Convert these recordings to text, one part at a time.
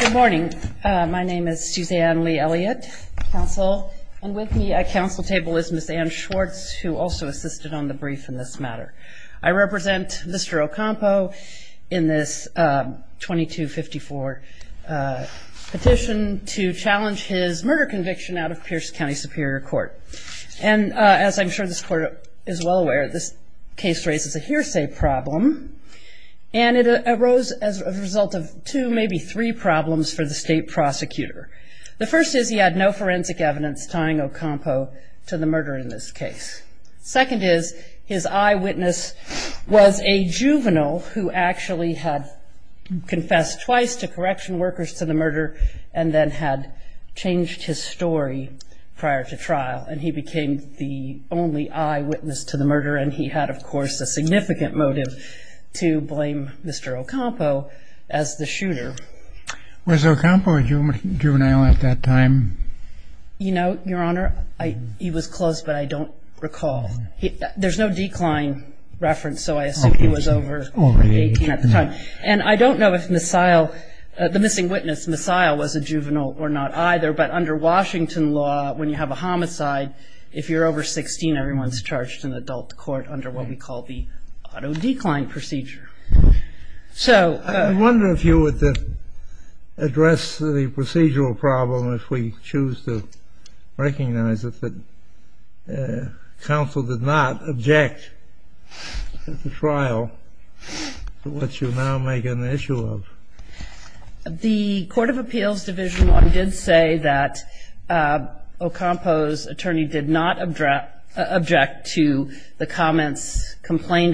Good morning, my name is Suzanne Lee-Elliott, counsel, and with me at counsel table is Ms. Anne Schwartz who also assisted on the brief in this matter. I represent Mr. Ocampo in this 2254 petition to challenge his murder conviction out of Pierce County Superior Court and as I'm sure this court is well aware there may be three problems for the state prosecutor. The first is he had no forensic evidence tying Ocampo to the murder in this case. Second is his eyewitness was a juvenile who actually had confessed twice to correction workers to the murder and then had changed his story prior to trial and he became the only eyewitness to the murder and he had of course a significant motive to blame Mr. Ocampo as the shooter. Was Ocampo a juvenile at that time? You know, your honor, he was close but I don't recall. There's no decline reference so I assume he was over 18 at the time and I don't know if Missile, the missing witness, Missile was a juvenile or not either but under Washington law when you have a homicide if you're over 16 everyone's charged in adult court under what we call the auto decline procedure. So I wonder if you would address the procedural problem if we choose to recognize it that counsel did not object at the trial to what you now make an issue of. The Court of Appeals Division law did say that Ocampo's comments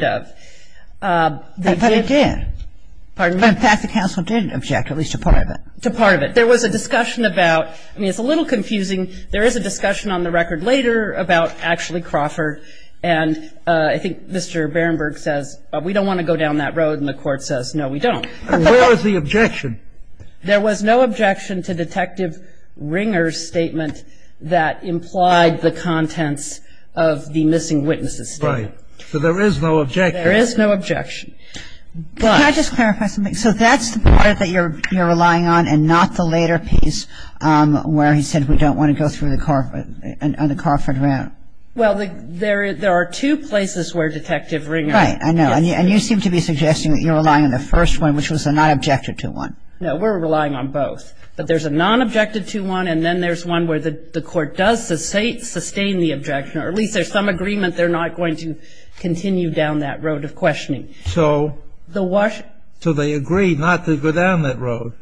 complained of. But it did. Pardon me? The fact that counsel did object, at least a part of it. To part of it. There was a discussion about, I mean it's a little confusing, there is a discussion on the record later about actually Crawford and I think Mr. Berenberg says we don't want to go down that road and the court says no we don't. Where was the objection? There was no objection to Detective Ringer's statement that implied the contents of the missing witnesses statement. Right. So there is no objection. There is no objection. Can I just clarify something? So that's the part that you're relying on and not the later piece where he said we don't want to go through the Crawford route. Well, there are two places where Detective Ringer. Right, I know. And you seem to be suggesting that you're relying on the first one which was a non-objected to one. No, we're relying on both. But there's a non-objected to one and then there's one where the court does sustain the objection, or at least there's some agreement they're not going to continue down that road of questioning. So they agreed not to go down that road.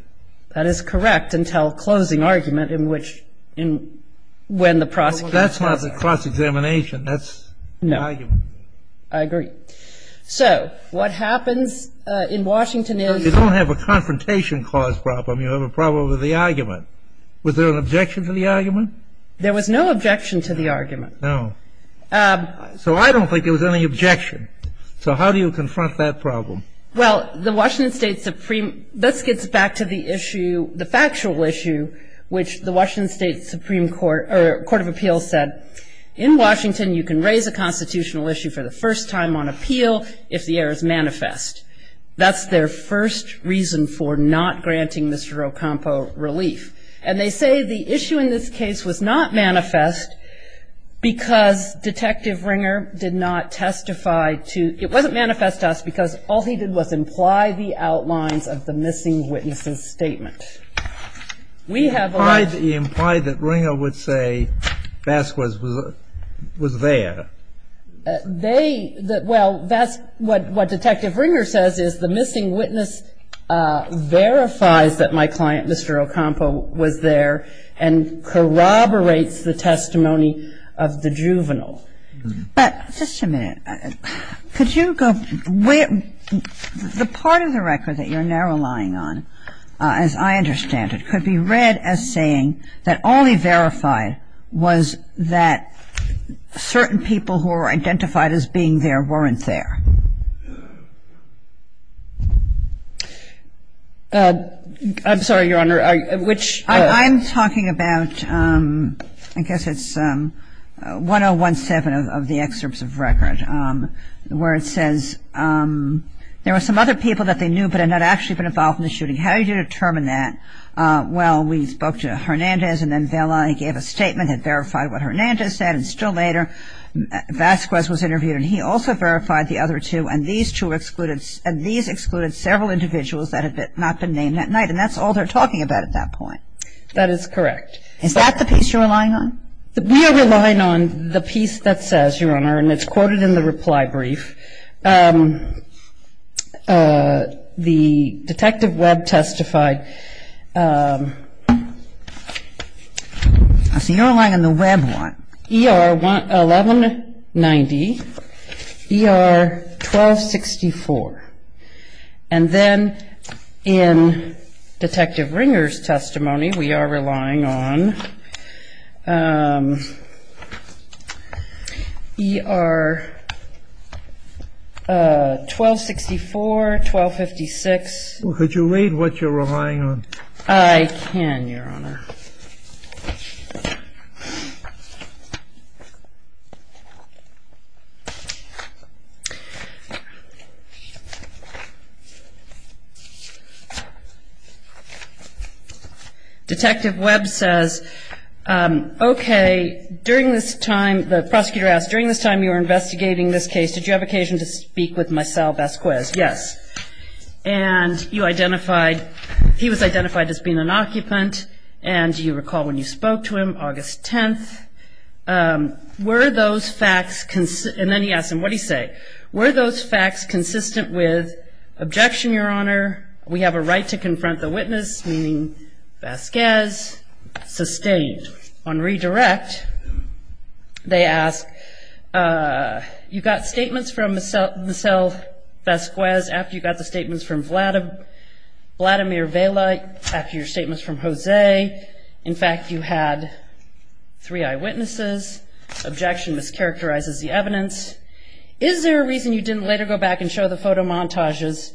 That is correct until closing argument in which, when the prosecutor says. That's not the cross-examination. That's the argument. No. I agree. So what happens in Washington is. You don't have a confrontation cause problem. You have a problem with the argument. Was there an objection to the argument? There was no objection to the argument. No. So I don't think there was any objection. So how do you confront that problem? Well, the Washington State Supreme. This gets back to the issue, the factual issue, which the Washington State Supreme Court or Court of Appeals said in Washington, you can raise a constitutional issue for the first time on appeal if the error is manifest. That's their first reason for not granting Mr. Ocampo relief. And they say the issue in this case was not manifest because Detective Ringer did not testify to. It wasn't manifest to us because all he did was imply the that they, well, that's what Detective Ringer says is the missing witness verifies that my client, Mr. Ocampo, was there and corroborates the testimony of the juvenile. But just a minute. Could you go, the part of the record that you're now relying on, as I understand it, could be read as saying that only verified was that certain people who were identified as being there weren't there? I'm sorry, Your Honor, which I'm talking about, I guess it's 1017 of the excerpts of record where it says there were some other people that they knew but had not actually been involved in the shooting. How did you determine that? Well, we spoke to Hernandez and then Vela and he gave a statement that verified what Hernandez said and still later Vasquez was interviewed and he also verified the other two and these two excluded several individuals that had not been named that night and that's all they're talking about at that point. That is correct. Is that the piece you're relying on? We are relying on the piece that says, Your Honor, and it's quoted in the reply brief, the Detective Webb testified. So you're relying on the Webb one. ER 1190, ER 1264. And then in Detective Ringer's testimony, we are relying on ER 1264, 1256. Could you read what you're relying on? I can, Your Honor. Detective Webb says, Okay, during this time, the prosecutor asked, During this time you were investigating this case, did you have occasion to speak with myself, Vasquez? Yes. And you identified, he was identified as being an occupant and you recall when you spoke to him, August 10th. Were those facts, and then he asked him, What did he say? Were those facts consistent with objection, Your Honor? We have a right to confront the witness, meaning Vasquez, sustained. On redirect, they ask, You got statements from Michelle Vasquez after you got the statements from Vladimir Velay, after your statements from Objection mischaracterizes the evidence. Is there a reason you didn't later go back and show the photo montages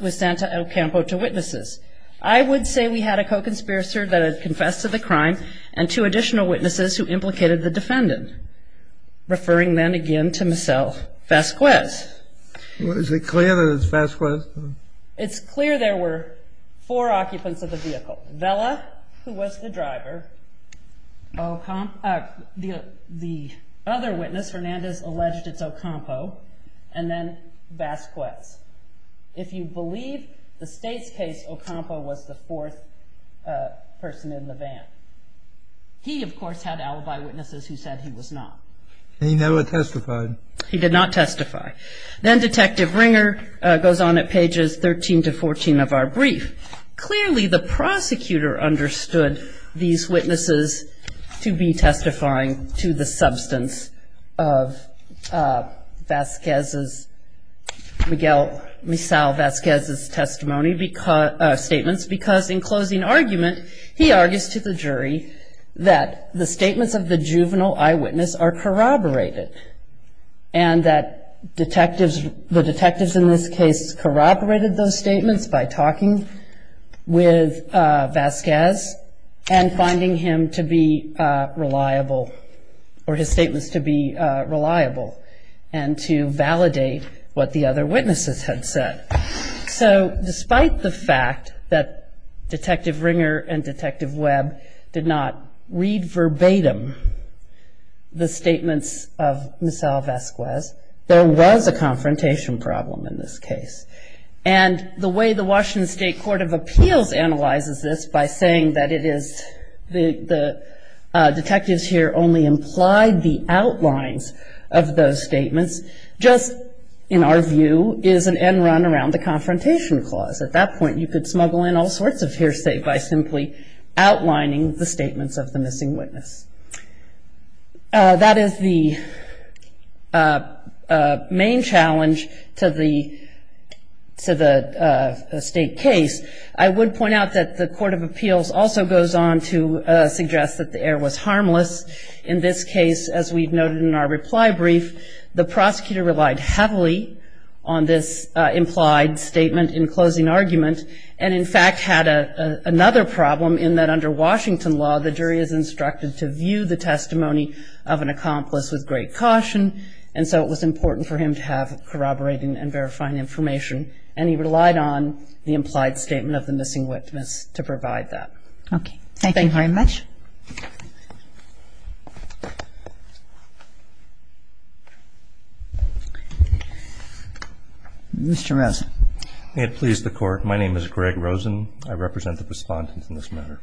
with Santa El Campo to witnesses? I would say we had a co-conspirator that had confessed to the crime and two additional witnesses who implicated the defendant. Referring then again to Michelle Vasquez. Is it clear that it's Vasquez? It's clear there were four occupants of the vehicle. So, Velay, who was the driver, the other witness, Fernandez, alleged it's El Campo, and then Vasquez. If you believe the state's case, El Campo was the fourth person in the van. He, of course, had alibi witnesses who said he was not. He never testified. He did not testify. Then Detective Ringer goes on at pages 13 to 14 of our brief. Clearly, the prosecutor understood these witnesses to be testifying to the substance of Vasquez's, Miguel Misao Vasquez's testimony, statements, because in closing argument, he argues to the jury that the statements of the juvenile eyewitness are corroborated. And that detectives, the detectives in this case corroborated those statements by talking with Vasquez and finding him to be reliable or his statements to be reliable and to validate what the other witnesses had said. So, despite the fact that Detective Ringer and Detective Webb did not read verbatim the statements of Misao Vasquez, there was a confrontation problem in this case. And the way the Washington State Court of Appeals analyzes this by saying that it is the detectives here that only implied the outlines of those statements just, in our view, is an end run around the confrontation clause. At that point, you could smuggle in all sorts of hearsay by simply outlining the statements of the missing witness. That is the main challenge to the State case. I would point out that the Court of Appeals also goes on to suggest that the error was harmless. In this case, as we've noted in our reply brief, the prosecutor relied heavily on this implied statement in closing argument. And, in fact, had another problem in that under Washington law, the jury is instructed to view the testimony of an accomplice with great caution. And so it was important for him to have corroborating and verifying information. And he relied on the implied statement of the missing witness to provide that. Okay. Thank you very much. Mr. Rosen. May it please the Court. My name is Greg Rosen. I represent the respondents in this matter.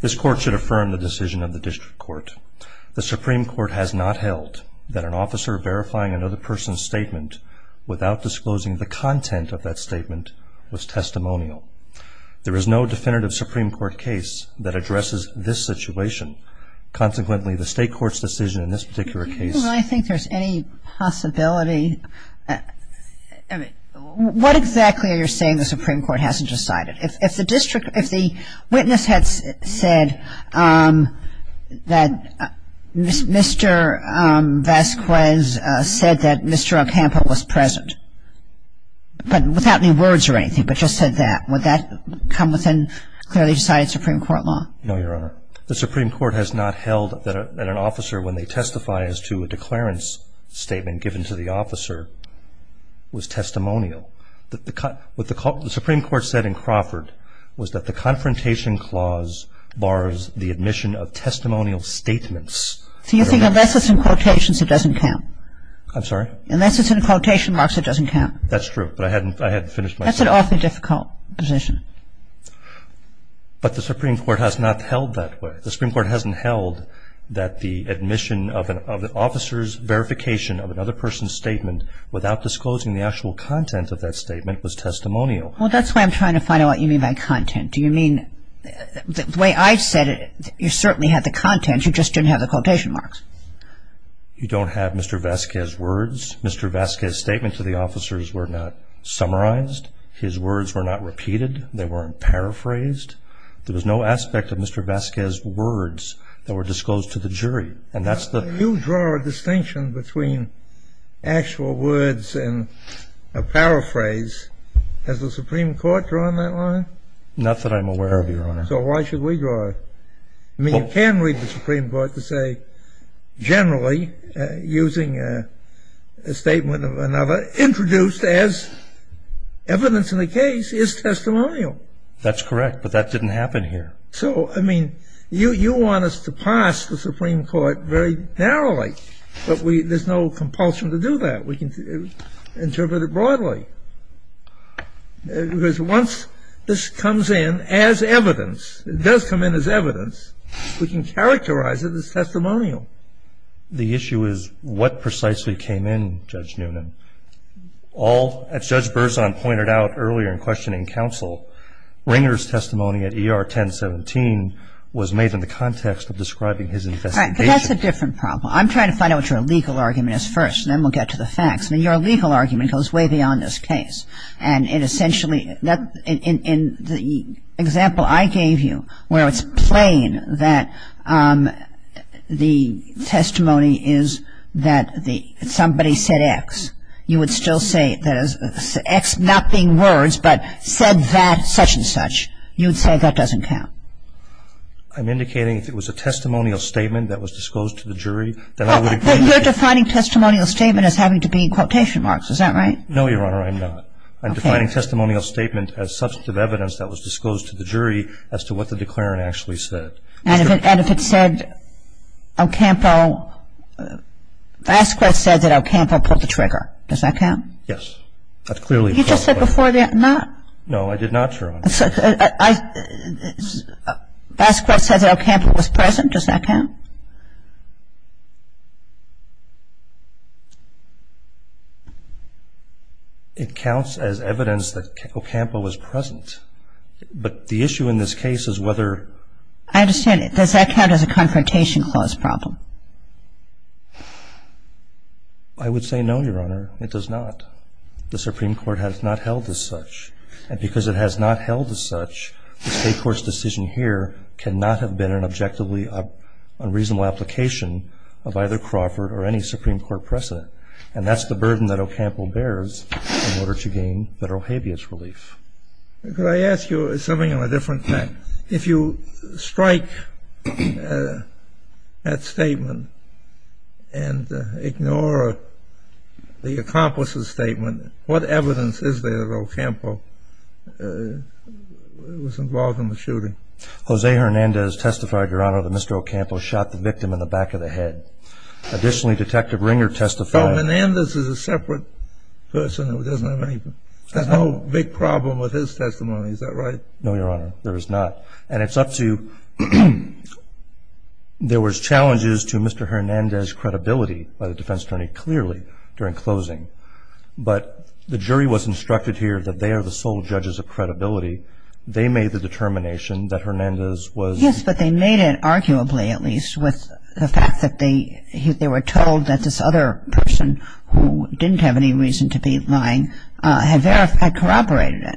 This Court should affirm the decision of the District Court. The Supreme Court has not held that an officer verifying another person's statement without disclosing the content of that statement was testimonial. There is no definitive Supreme Court case that addresses this situation. Consequently, the State Court's decision in this particular case. Well, I think there's any possibility. What exactly are you saying the Supreme Court hasn't decided? If the district, if the witness had said that Mr. Vasquez said that Mr. Acampo was present, but without any words or anything, but just said that, would that come within clearly decided Supreme Court law? No, Your Honor. The Supreme Court has not held that an officer, when they testify as to a declarance statement given to the officer, was testimonial. What the Supreme Court said in Crawford was that the Confrontation Clause bars the admission of testimonial statements. So you think unless it's in quotations, it doesn't count? I'm sorry? Unless it's in quotation marks, it doesn't count? That's true, but I hadn't finished my statement. That's an awfully difficult position. But the Supreme Court has not held that way. The Supreme Court hasn't held that the admission of an officer's verification statement without disclosing the actual content of that statement was testimonial. Well, that's why I'm trying to find out what you mean by content. Do you mean the way I said it, you certainly had the content, you just didn't have the quotation marks. You don't have Mr. Vasquez's words. Mr. Vasquez's statements to the officers were not summarized. His words were not repeated. They weren't paraphrased. There was no aspect of Mr. Vasquez's words that were disclosed to the jury. You draw a distinction between actual words and a paraphrase. Has the Supreme Court drawn that line? Not that I'm aware of, Your Honor. So why should we draw it? I mean, you can read the Supreme Court to say generally, using a statement of another, introduced as evidence in the case is testimonial. That's correct, but that didn't happen here. So, I mean, you want us to pass the Supreme Court very narrowly, but there's no compulsion to do that. We can interpret it broadly. Because once this comes in as evidence, it does come in as evidence, we can characterize it as testimonial. The issue is what precisely came in, Judge Noonan. All, as Judge Berzon pointed out earlier in questioning counsel, Ringer's testimony at ER 1017 was made in the context of describing his investigation. Right. But that's a different problem. I'm trying to find out what your legal argument is first, and then we'll get to the facts. I mean, your legal argument goes way beyond this case. And it essentially, in the example I gave you, where it's plain that the testimony is that somebody said X, not being words, but said that such-and-such, you would say that doesn't count. I'm indicating if it was a testimonial statement that was disclosed to the jury, then I would agree. But you're defining testimonial statement as having to be quotation marks. Is that right? No, Your Honor, I'm not. Okay. I'm defining testimonial statement as substantive evidence that was disclosed to the jury as to what the declarant actually said. And if it said Ocampo, Vasquez said that Ocampo pulled the trigger. Does that count? Yes. That's clearly a fact. You just said before that not. No, I did not, Your Honor. Vasquez said that Ocampo was present. Does that count? It counts as evidence that Ocampo was present. But the issue in this case is whether — I understand. Does that count as a Confrontation Clause problem? I would say no, Your Honor, it does not. The Supreme Court has not held as such. And because it has not held as such, the State Court's decision here cannot have been an objectively unreasonable application of either Crawford or any Supreme Court precedent. And that's the burden that Ocampo bears in order to gain federal habeas relief. Could I ask you something of a different kind? If you strike that statement and ignore the accomplice's statement, what evidence is there that Ocampo was involved in the shooting? Jose Hernandez testified, Your Honor, that Mr. Ocampo shot the victim in the back of the head. Additionally, Detective Ringer testified — So Hernandez is a separate person who doesn't have any — has no big problem with his testimony. Is that right? No, Your Honor, there is not. And it's up to — there was challenges to Mr. Hernandez's credibility by the defense attorney, clearly, during closing. But the jury was instructed here that they are the sole judges of credibility. They made the determination that Hernandez was — Yes, but they made it, arguably at least, with the fact that they were told that this other person, who didn't have any reason to be lying, had corroborated it.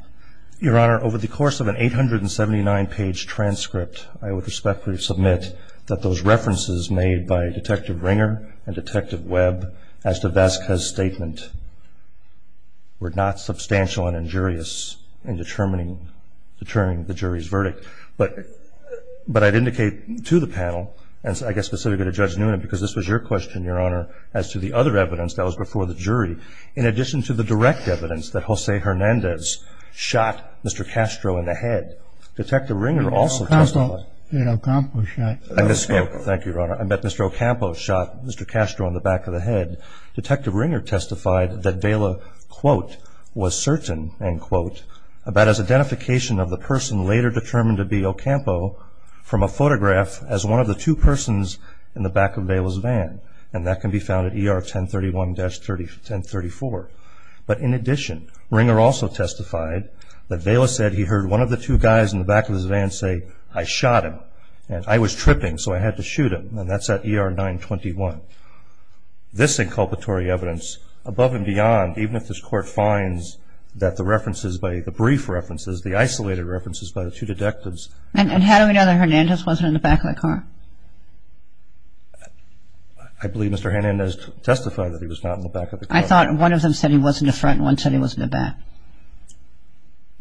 Your Honor, over the course of an 879-page transcript, I would respectfully submit that those references made by Detective Ringer and Detective Webb as to Vasquez's statement were not substantial and injurious in determining the jury's verdict. But I'd indicate to the panel, and I guess specifically to Judge Nunez, because this was your question, Your Honor, as to the other evidence that was before the jury, in addition to the direct evidence that Jose Hernandez shot Mr. Castro in the head. Detective Ringer also testified — Ocampo shot — Thank you, Your Honor. I meant Mr. Ocampo shot Mr. Castro in the back of the head. Detective Ringer testified that Vela, quote, was certain, end quote, about his identification of the person later determined to be Ocampo from a photograph as one of the two persons in the back of Vela's van. And that can be found at ER 1031-1034. But in addition, Ringer also testified that Vela said he heard one of the two guys in the back of his van say, I shot him. And I was tripping, so I had to shoot him. And that's at ER 921. This inculpatory evidence, above and beyond, even if this Court finds that the references, the brief references, the isolated references by the two detectives — I believe Mr. Hernandez testified that he was not in the back of the car. I thought one of them said he was in the front and one said he was in the back.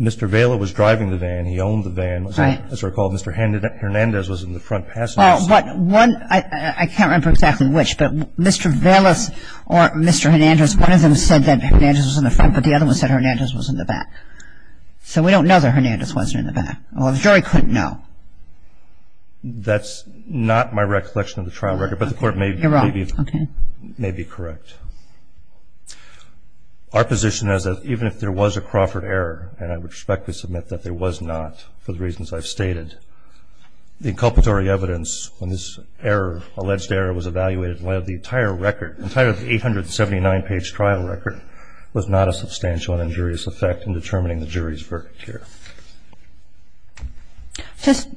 Mr. Vela was driving the van. He owned the van. Right. As I recall, Mr. Hernandez was in the front passenger seat. Well, but one — I can't remember exactly which. But Mr. Velas or Mr. Hernandez, one of them said that Hernandez was in the front, but the other one said Hernandez was in the back. So we don't know that Hernandez wasn't in the back. Well, the jury couldn't know. That's not my recollection of the trial record. But the Court may be correct. Our position is that even if there was a Crawford error, and I would respectfully submit that there was not for the reasons I've stated, the inculpatory evidence on this error, alleged error, was evaluated in light of the entire record, the entire 879-page trial record, was not of substantial and injurious effect in determining the jury's verdict here. Just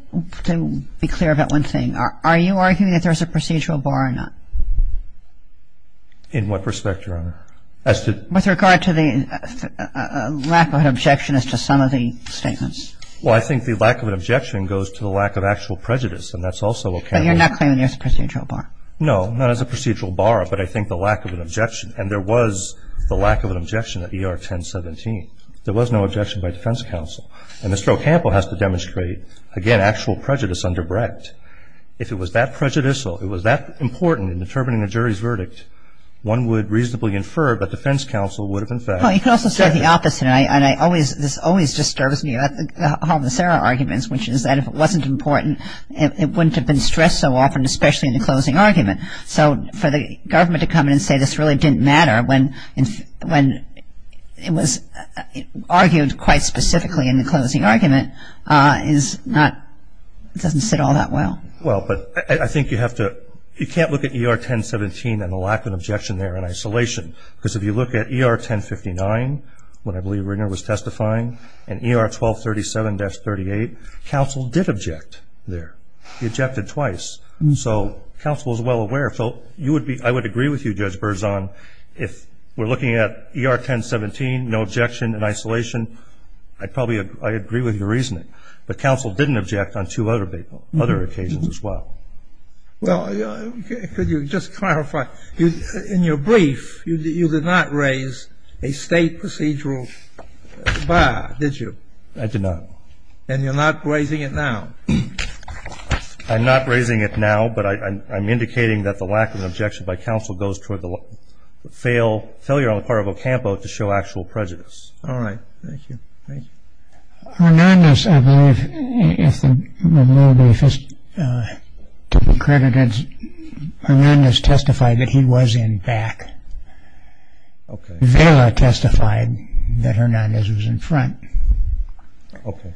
to be clear about one thing, are you arguing that there's a procedural bar or not? In what respect, Your Honor? With regard to the lack of an objection as to some of the statements. Well, I think the lack of an objection goes to the lack of actual prejudice, and that's also what can be — But you're not claiming there's a procedural bar. No, not as a procedural bar, but I think the lack of an objection. And there was the lack of an objection at ER 1017. There was no objection by defense counsel. And Mr. O'Campbell has to demonstrate, again, actual prejudice underbred. If it was that prejudicial, if it was that important in determining a jury's verdict, one would reasonably infer that defense counsel would have, in fact, said it. Well, you could also say the opposite. And I always — this always disturbs me about the homicidal arguments, which is that if it wasn't important, it wouldn't have been stressed so often, especially in the closing argument. So for the government to come in and say this really didn't matter when it was argued quite specifically in the closing argument is not — doesn't sit all that well. Well, but I think you have to — you can't look at ER 1017 and the lack of an objection there in isolation. Because if you look at ER 1059, when I believe Ringer was testifying, and ER 1237-38, counsel did object there. He objected twice. So counsel is well aware. So you would be — I would agree with you, Judge Berzon, if we're looking at ER 1017, no objection in isolation, I'd probably — I agree with your reasoning. But counsel didn't object on two other occasions as well. Well, could you just clarify? In your brief, you did not raise a state procedural bar, did you? I did not. And you're not raising it now? I'm not raising it now, but I'm indicating that the lack of an objection by counsel goes toward the failure on the part of Ocampo to show actual prejudice. All right. Thank you. Thank you. Hernandez, I believe, if the brief is to be credited, Hernandez testified that he was in back. Okay. Vela testified that Hernandez was in front. Okay.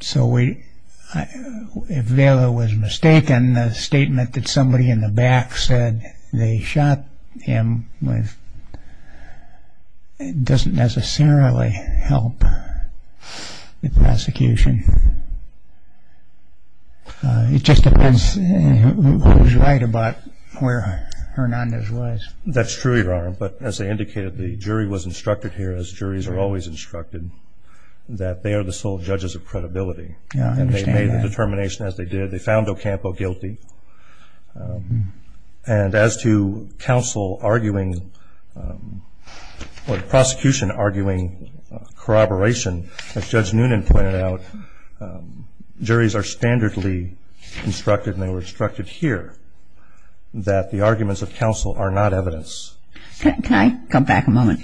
So if Vela was mistaken, the statement that somebody in the back said they shot him doesn't necessarily help the prosecution. It just depends who's right about where Hernandez was. That's true, Your Honor. But as I indicated, the jury was instructed here, as juries are always instructed, that they are the sole judges of credibility. Yeah, I understand that. And they made the determination as they did. They found Ocampo guilty. And as to counsel arguing or the prosecution arguing corroboration, as Judge Noonan pointed out, juries are standardly instructed, and they were instructed here, that the arguments of counsel are not evidence. Can I come back a moment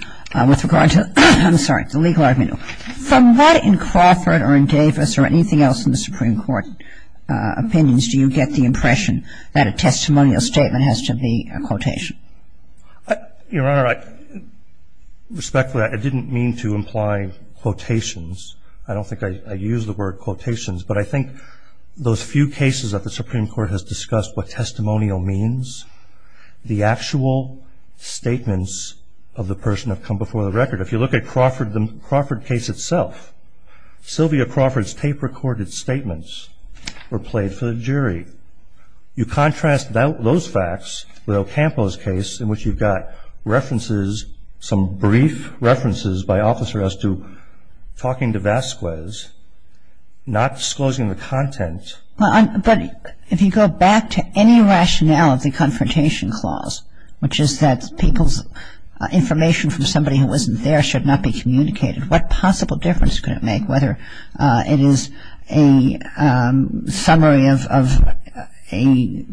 with regard to the legal argument? From what in Crawford or in Davis or anything else in the Supreme Court opinions do you get the impression that a testimonial statement has to be a quotation? Your Honor, respectfully, I didn't mean to imply quotations. I don't think I used the word quotations. But I think those few cases that the Supreme Court has discussed what testimonial means, the actual statements of the person have come before the record. If you look at the Crawford case itself, Sylvia Crawford's tape-recorded statements were played for the jury. You contrast those facts with Ocampo's case in which you've got references, some brief references by officers as to talking to Vasquez, not disclosing the content. But if you go back to any rationale of the Confrontation Clause, which is that people's information from somebody who wasn't there should not be communicated, what possible difference could it make whether it is a summary of a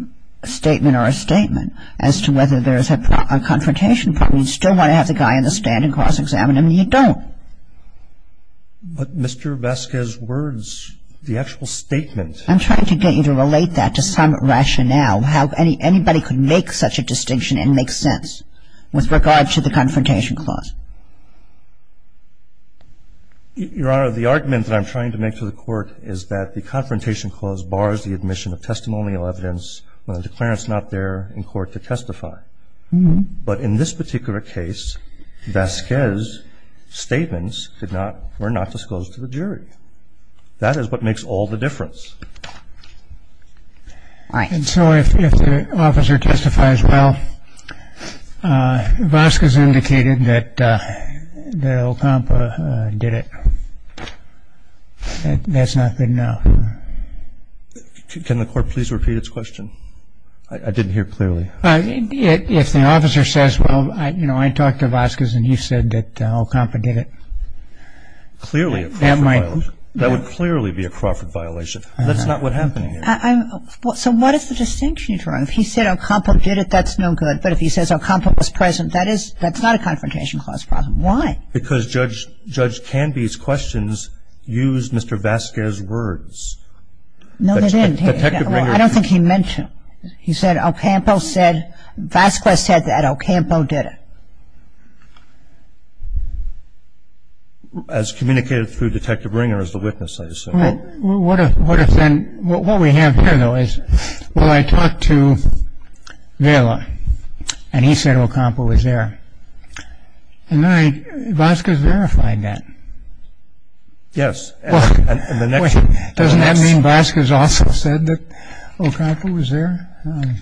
statement or a statement as to whether there is a confrontation point where you still want to have the guy on the stand and cross-examine him and you don't? But Mr. Vasquez's words, the actual statement. I'm trying to get you to relate that to some rationale, how anybody could make such a distinction and make sense with regard to the Confrontation Clause. Your Honor, the argument that I'm trying to make to the Court is that the Confrontation Clause is not there in court to testify. But in this particular case, Vasquez's statements were not disclosed to the jury. That is what makes all the difference. And so if the officer testifies, well, Vasquez indicated that Ocampo did it. That's not good enough. Can the Court please repeat its question? I didn't hear clearly. If the officer says, well, you know, I talked to Vasquez and he said that Ocampo did it. Clearly a Crawford violation. That would clearly be a Crawford violation. That's not what happened here. So what is the distinction, Your Honor? If he said Ocampo did it, that's no good. But if he says Ocampo was present, that's not a Confrontation Clause problem. Why? Because Judge Canby's questions used Mr. Vasquez's words. No, they didn't. I don't think he mentioned. He said Ocampo said, Vasquez said that Ocampo did it. As communicated through Detective Ringer as the witness, I assume. What if then, what we have here, though, is, well, I talked to Vela and he said Ocampo was there. And then Vasquez verified that. Yes. Doesn't that mean Vasquez also said that Ocampo was there?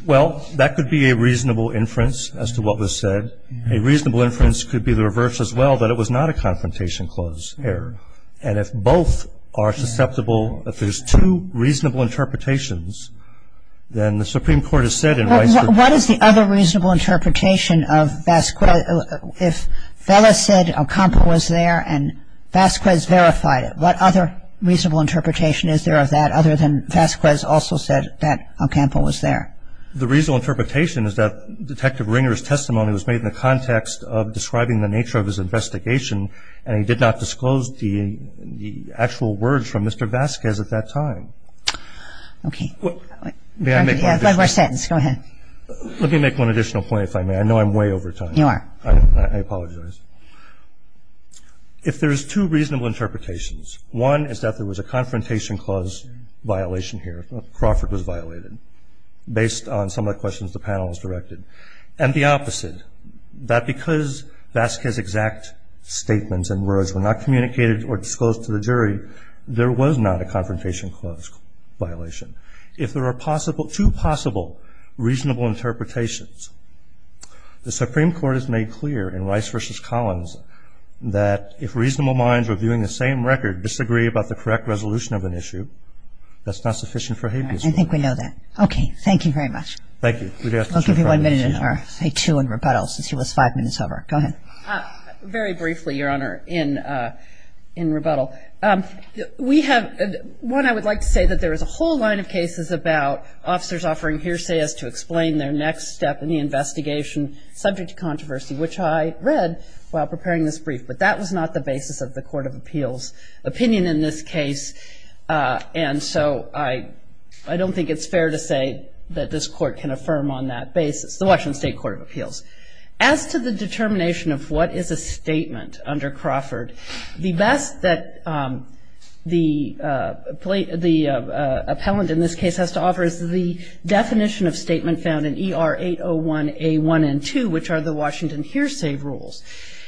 Well, that could be a reasonable inference as to what was said. A reasonable inference could be the reverse as well, that it was not a Confrontation Clause error. And if both are susceptible, if there's two reasonable interpretations, then the Supreme Court has said in Rice that What is the other reasonable interpretation of Vasquez? If Vela said Ocampo was there and Vasquez verified it, what other reasonable interpretation is there of that other than Vasquez also said that Ocampo was there? The reasonable interpretation is that Detective Ringer's testimony was made in the context of describing the nature of his investigation, and he did not disclose the actual words from Mr. Vasquez at that time. Okay. May I make one additional point? Go ahead. Let me make one additional point, if I may. I know I'm way over time. You are. I apologize. If there's two reasonable interpretations, one is that there was a Confrontation Clause violation here, Crawford was violated, based on some of the questions the panel has directed. And the opposite, that because Vasquez's exact statements and words were not communicated or disclosed to the jury, there was not a Confrontation Clause violation. If there are two possible reasonable interpretations, the Supreme Court has made clear in Rice v. Collins that if reasonable minds reviewing the same record disagree about the correct resolution of an issue, that's not sufficient for habeas corpus. All right. I think we know that. Okay. Thank you very much. Thank you. We'd ask Mr. Crawford to continue. I'll give you one minute, or say two in rebuttal, since he was five minutes over. Go ahead. Very briefly, Your Honor, in rebuttal. We have one I would like to say, that there is a whole line of cases about officers offering hearsay as to explain their next step in the investigation subject to controversy, which I read while preparing this brief. But that was not the basis of the Court of Appeals' opinion in this case. And so I don't think it's fair to say that this Court can affirm on that basis, the Washington State Court of Appeals. As to the determination of what is a statement under Crawford, the best that the appellant in this case has to offer is the definition of statement found in ER 801A1 and 2, which are the Washington hearsay rules.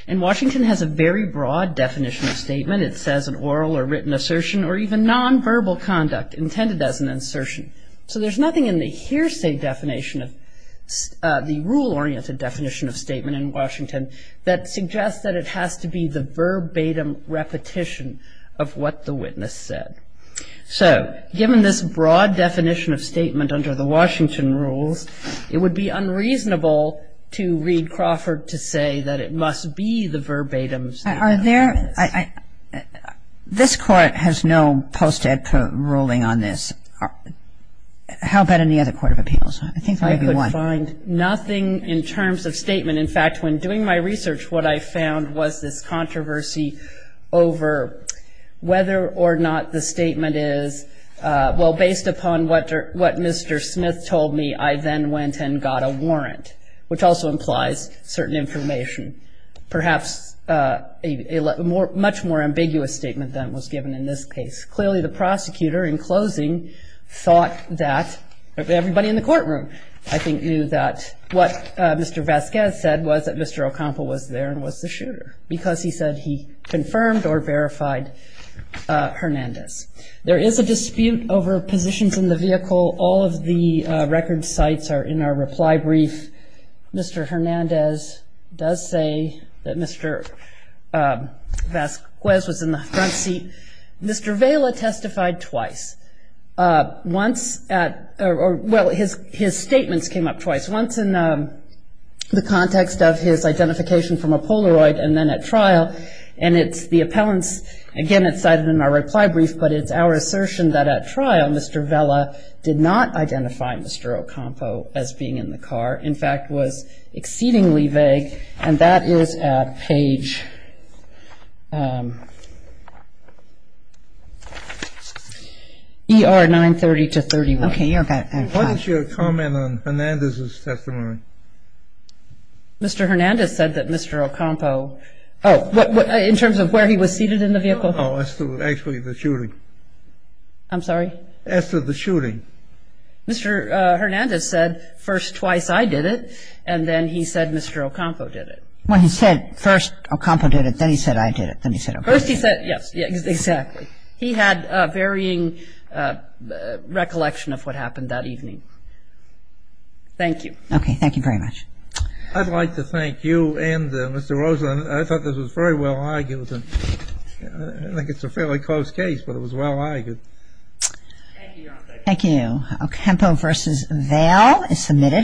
And Washington has a very broad definition of statement. It says an oral or written assertion or even nonverbal conduct intended as an assertion. So there's nothing in the hearsay definition of the rule-oriented definition of statement in Washington that suggests that it has to be the verbatim repetition of what the witness said. So given this broad definition of statement under the Washington rules, it would be unreasonable to read Crawford to say that it must be the verbatim statement. Are there – this Court has no post-ed ruling on this. How about any other Court of Appeals? I think maybe one. I could find nothing in terms of statement. In fact, when doing my research, what I found was this controversy over whether or not the statement is, well, based upon what Mr. Smith told me, I then went and got a warrant, which also implies certain information. Perhaps a much more ambiguous statement than was given in this case. Clearly, the prosecutor, in closing, thought that everybody in the courtroom, I think, knew that what Mr. Vasquez said was that Mr. Ocampo was there and was the shooter because he said he confirmed or verified Hernandez. There is a dispute over positions in the vehicle. All of the record sites are in our reply brief. Mr. Hernandez does say that Mr. Vasquez was in the front seat. Mr. Vela testified twice. Once at – well, his statements came up twice. Once in the context of his identification from a Polaroid and then at trial. And it's the appellant's – again, it's cited in our reply brief, but it's our assertion that at trial Mr. Vela did not identify Mr. Ocampo as being in the car. In fact, was exceedingly vague. And that is at page ER 930 to 31. Okay, you're back. Why don't you comment on Hernandez's testimony? Mr. Hernandez said that Mr. Ocampo – oh, in terms of where he was seated in the vehicle? No, actually, the shooting. I'm sorry? As to the shooting. Mr. Hernandez said first twice I did it, and then he said Mr. Ocampo did it. Well, he said first Ocampo did it, then he said I did it, then he said Ocampo did it. First he said – yes, exactly. He had a varying recollection of what happened that evening. Thank you. Okay, thank you very much. I'd like to thank you and Mr. Rosen. I thought this was very well argued. I think it's a fairly close case, but it was well argued. Thank you, Your Honor. Thank you. Ocampo v. Vail is submitted.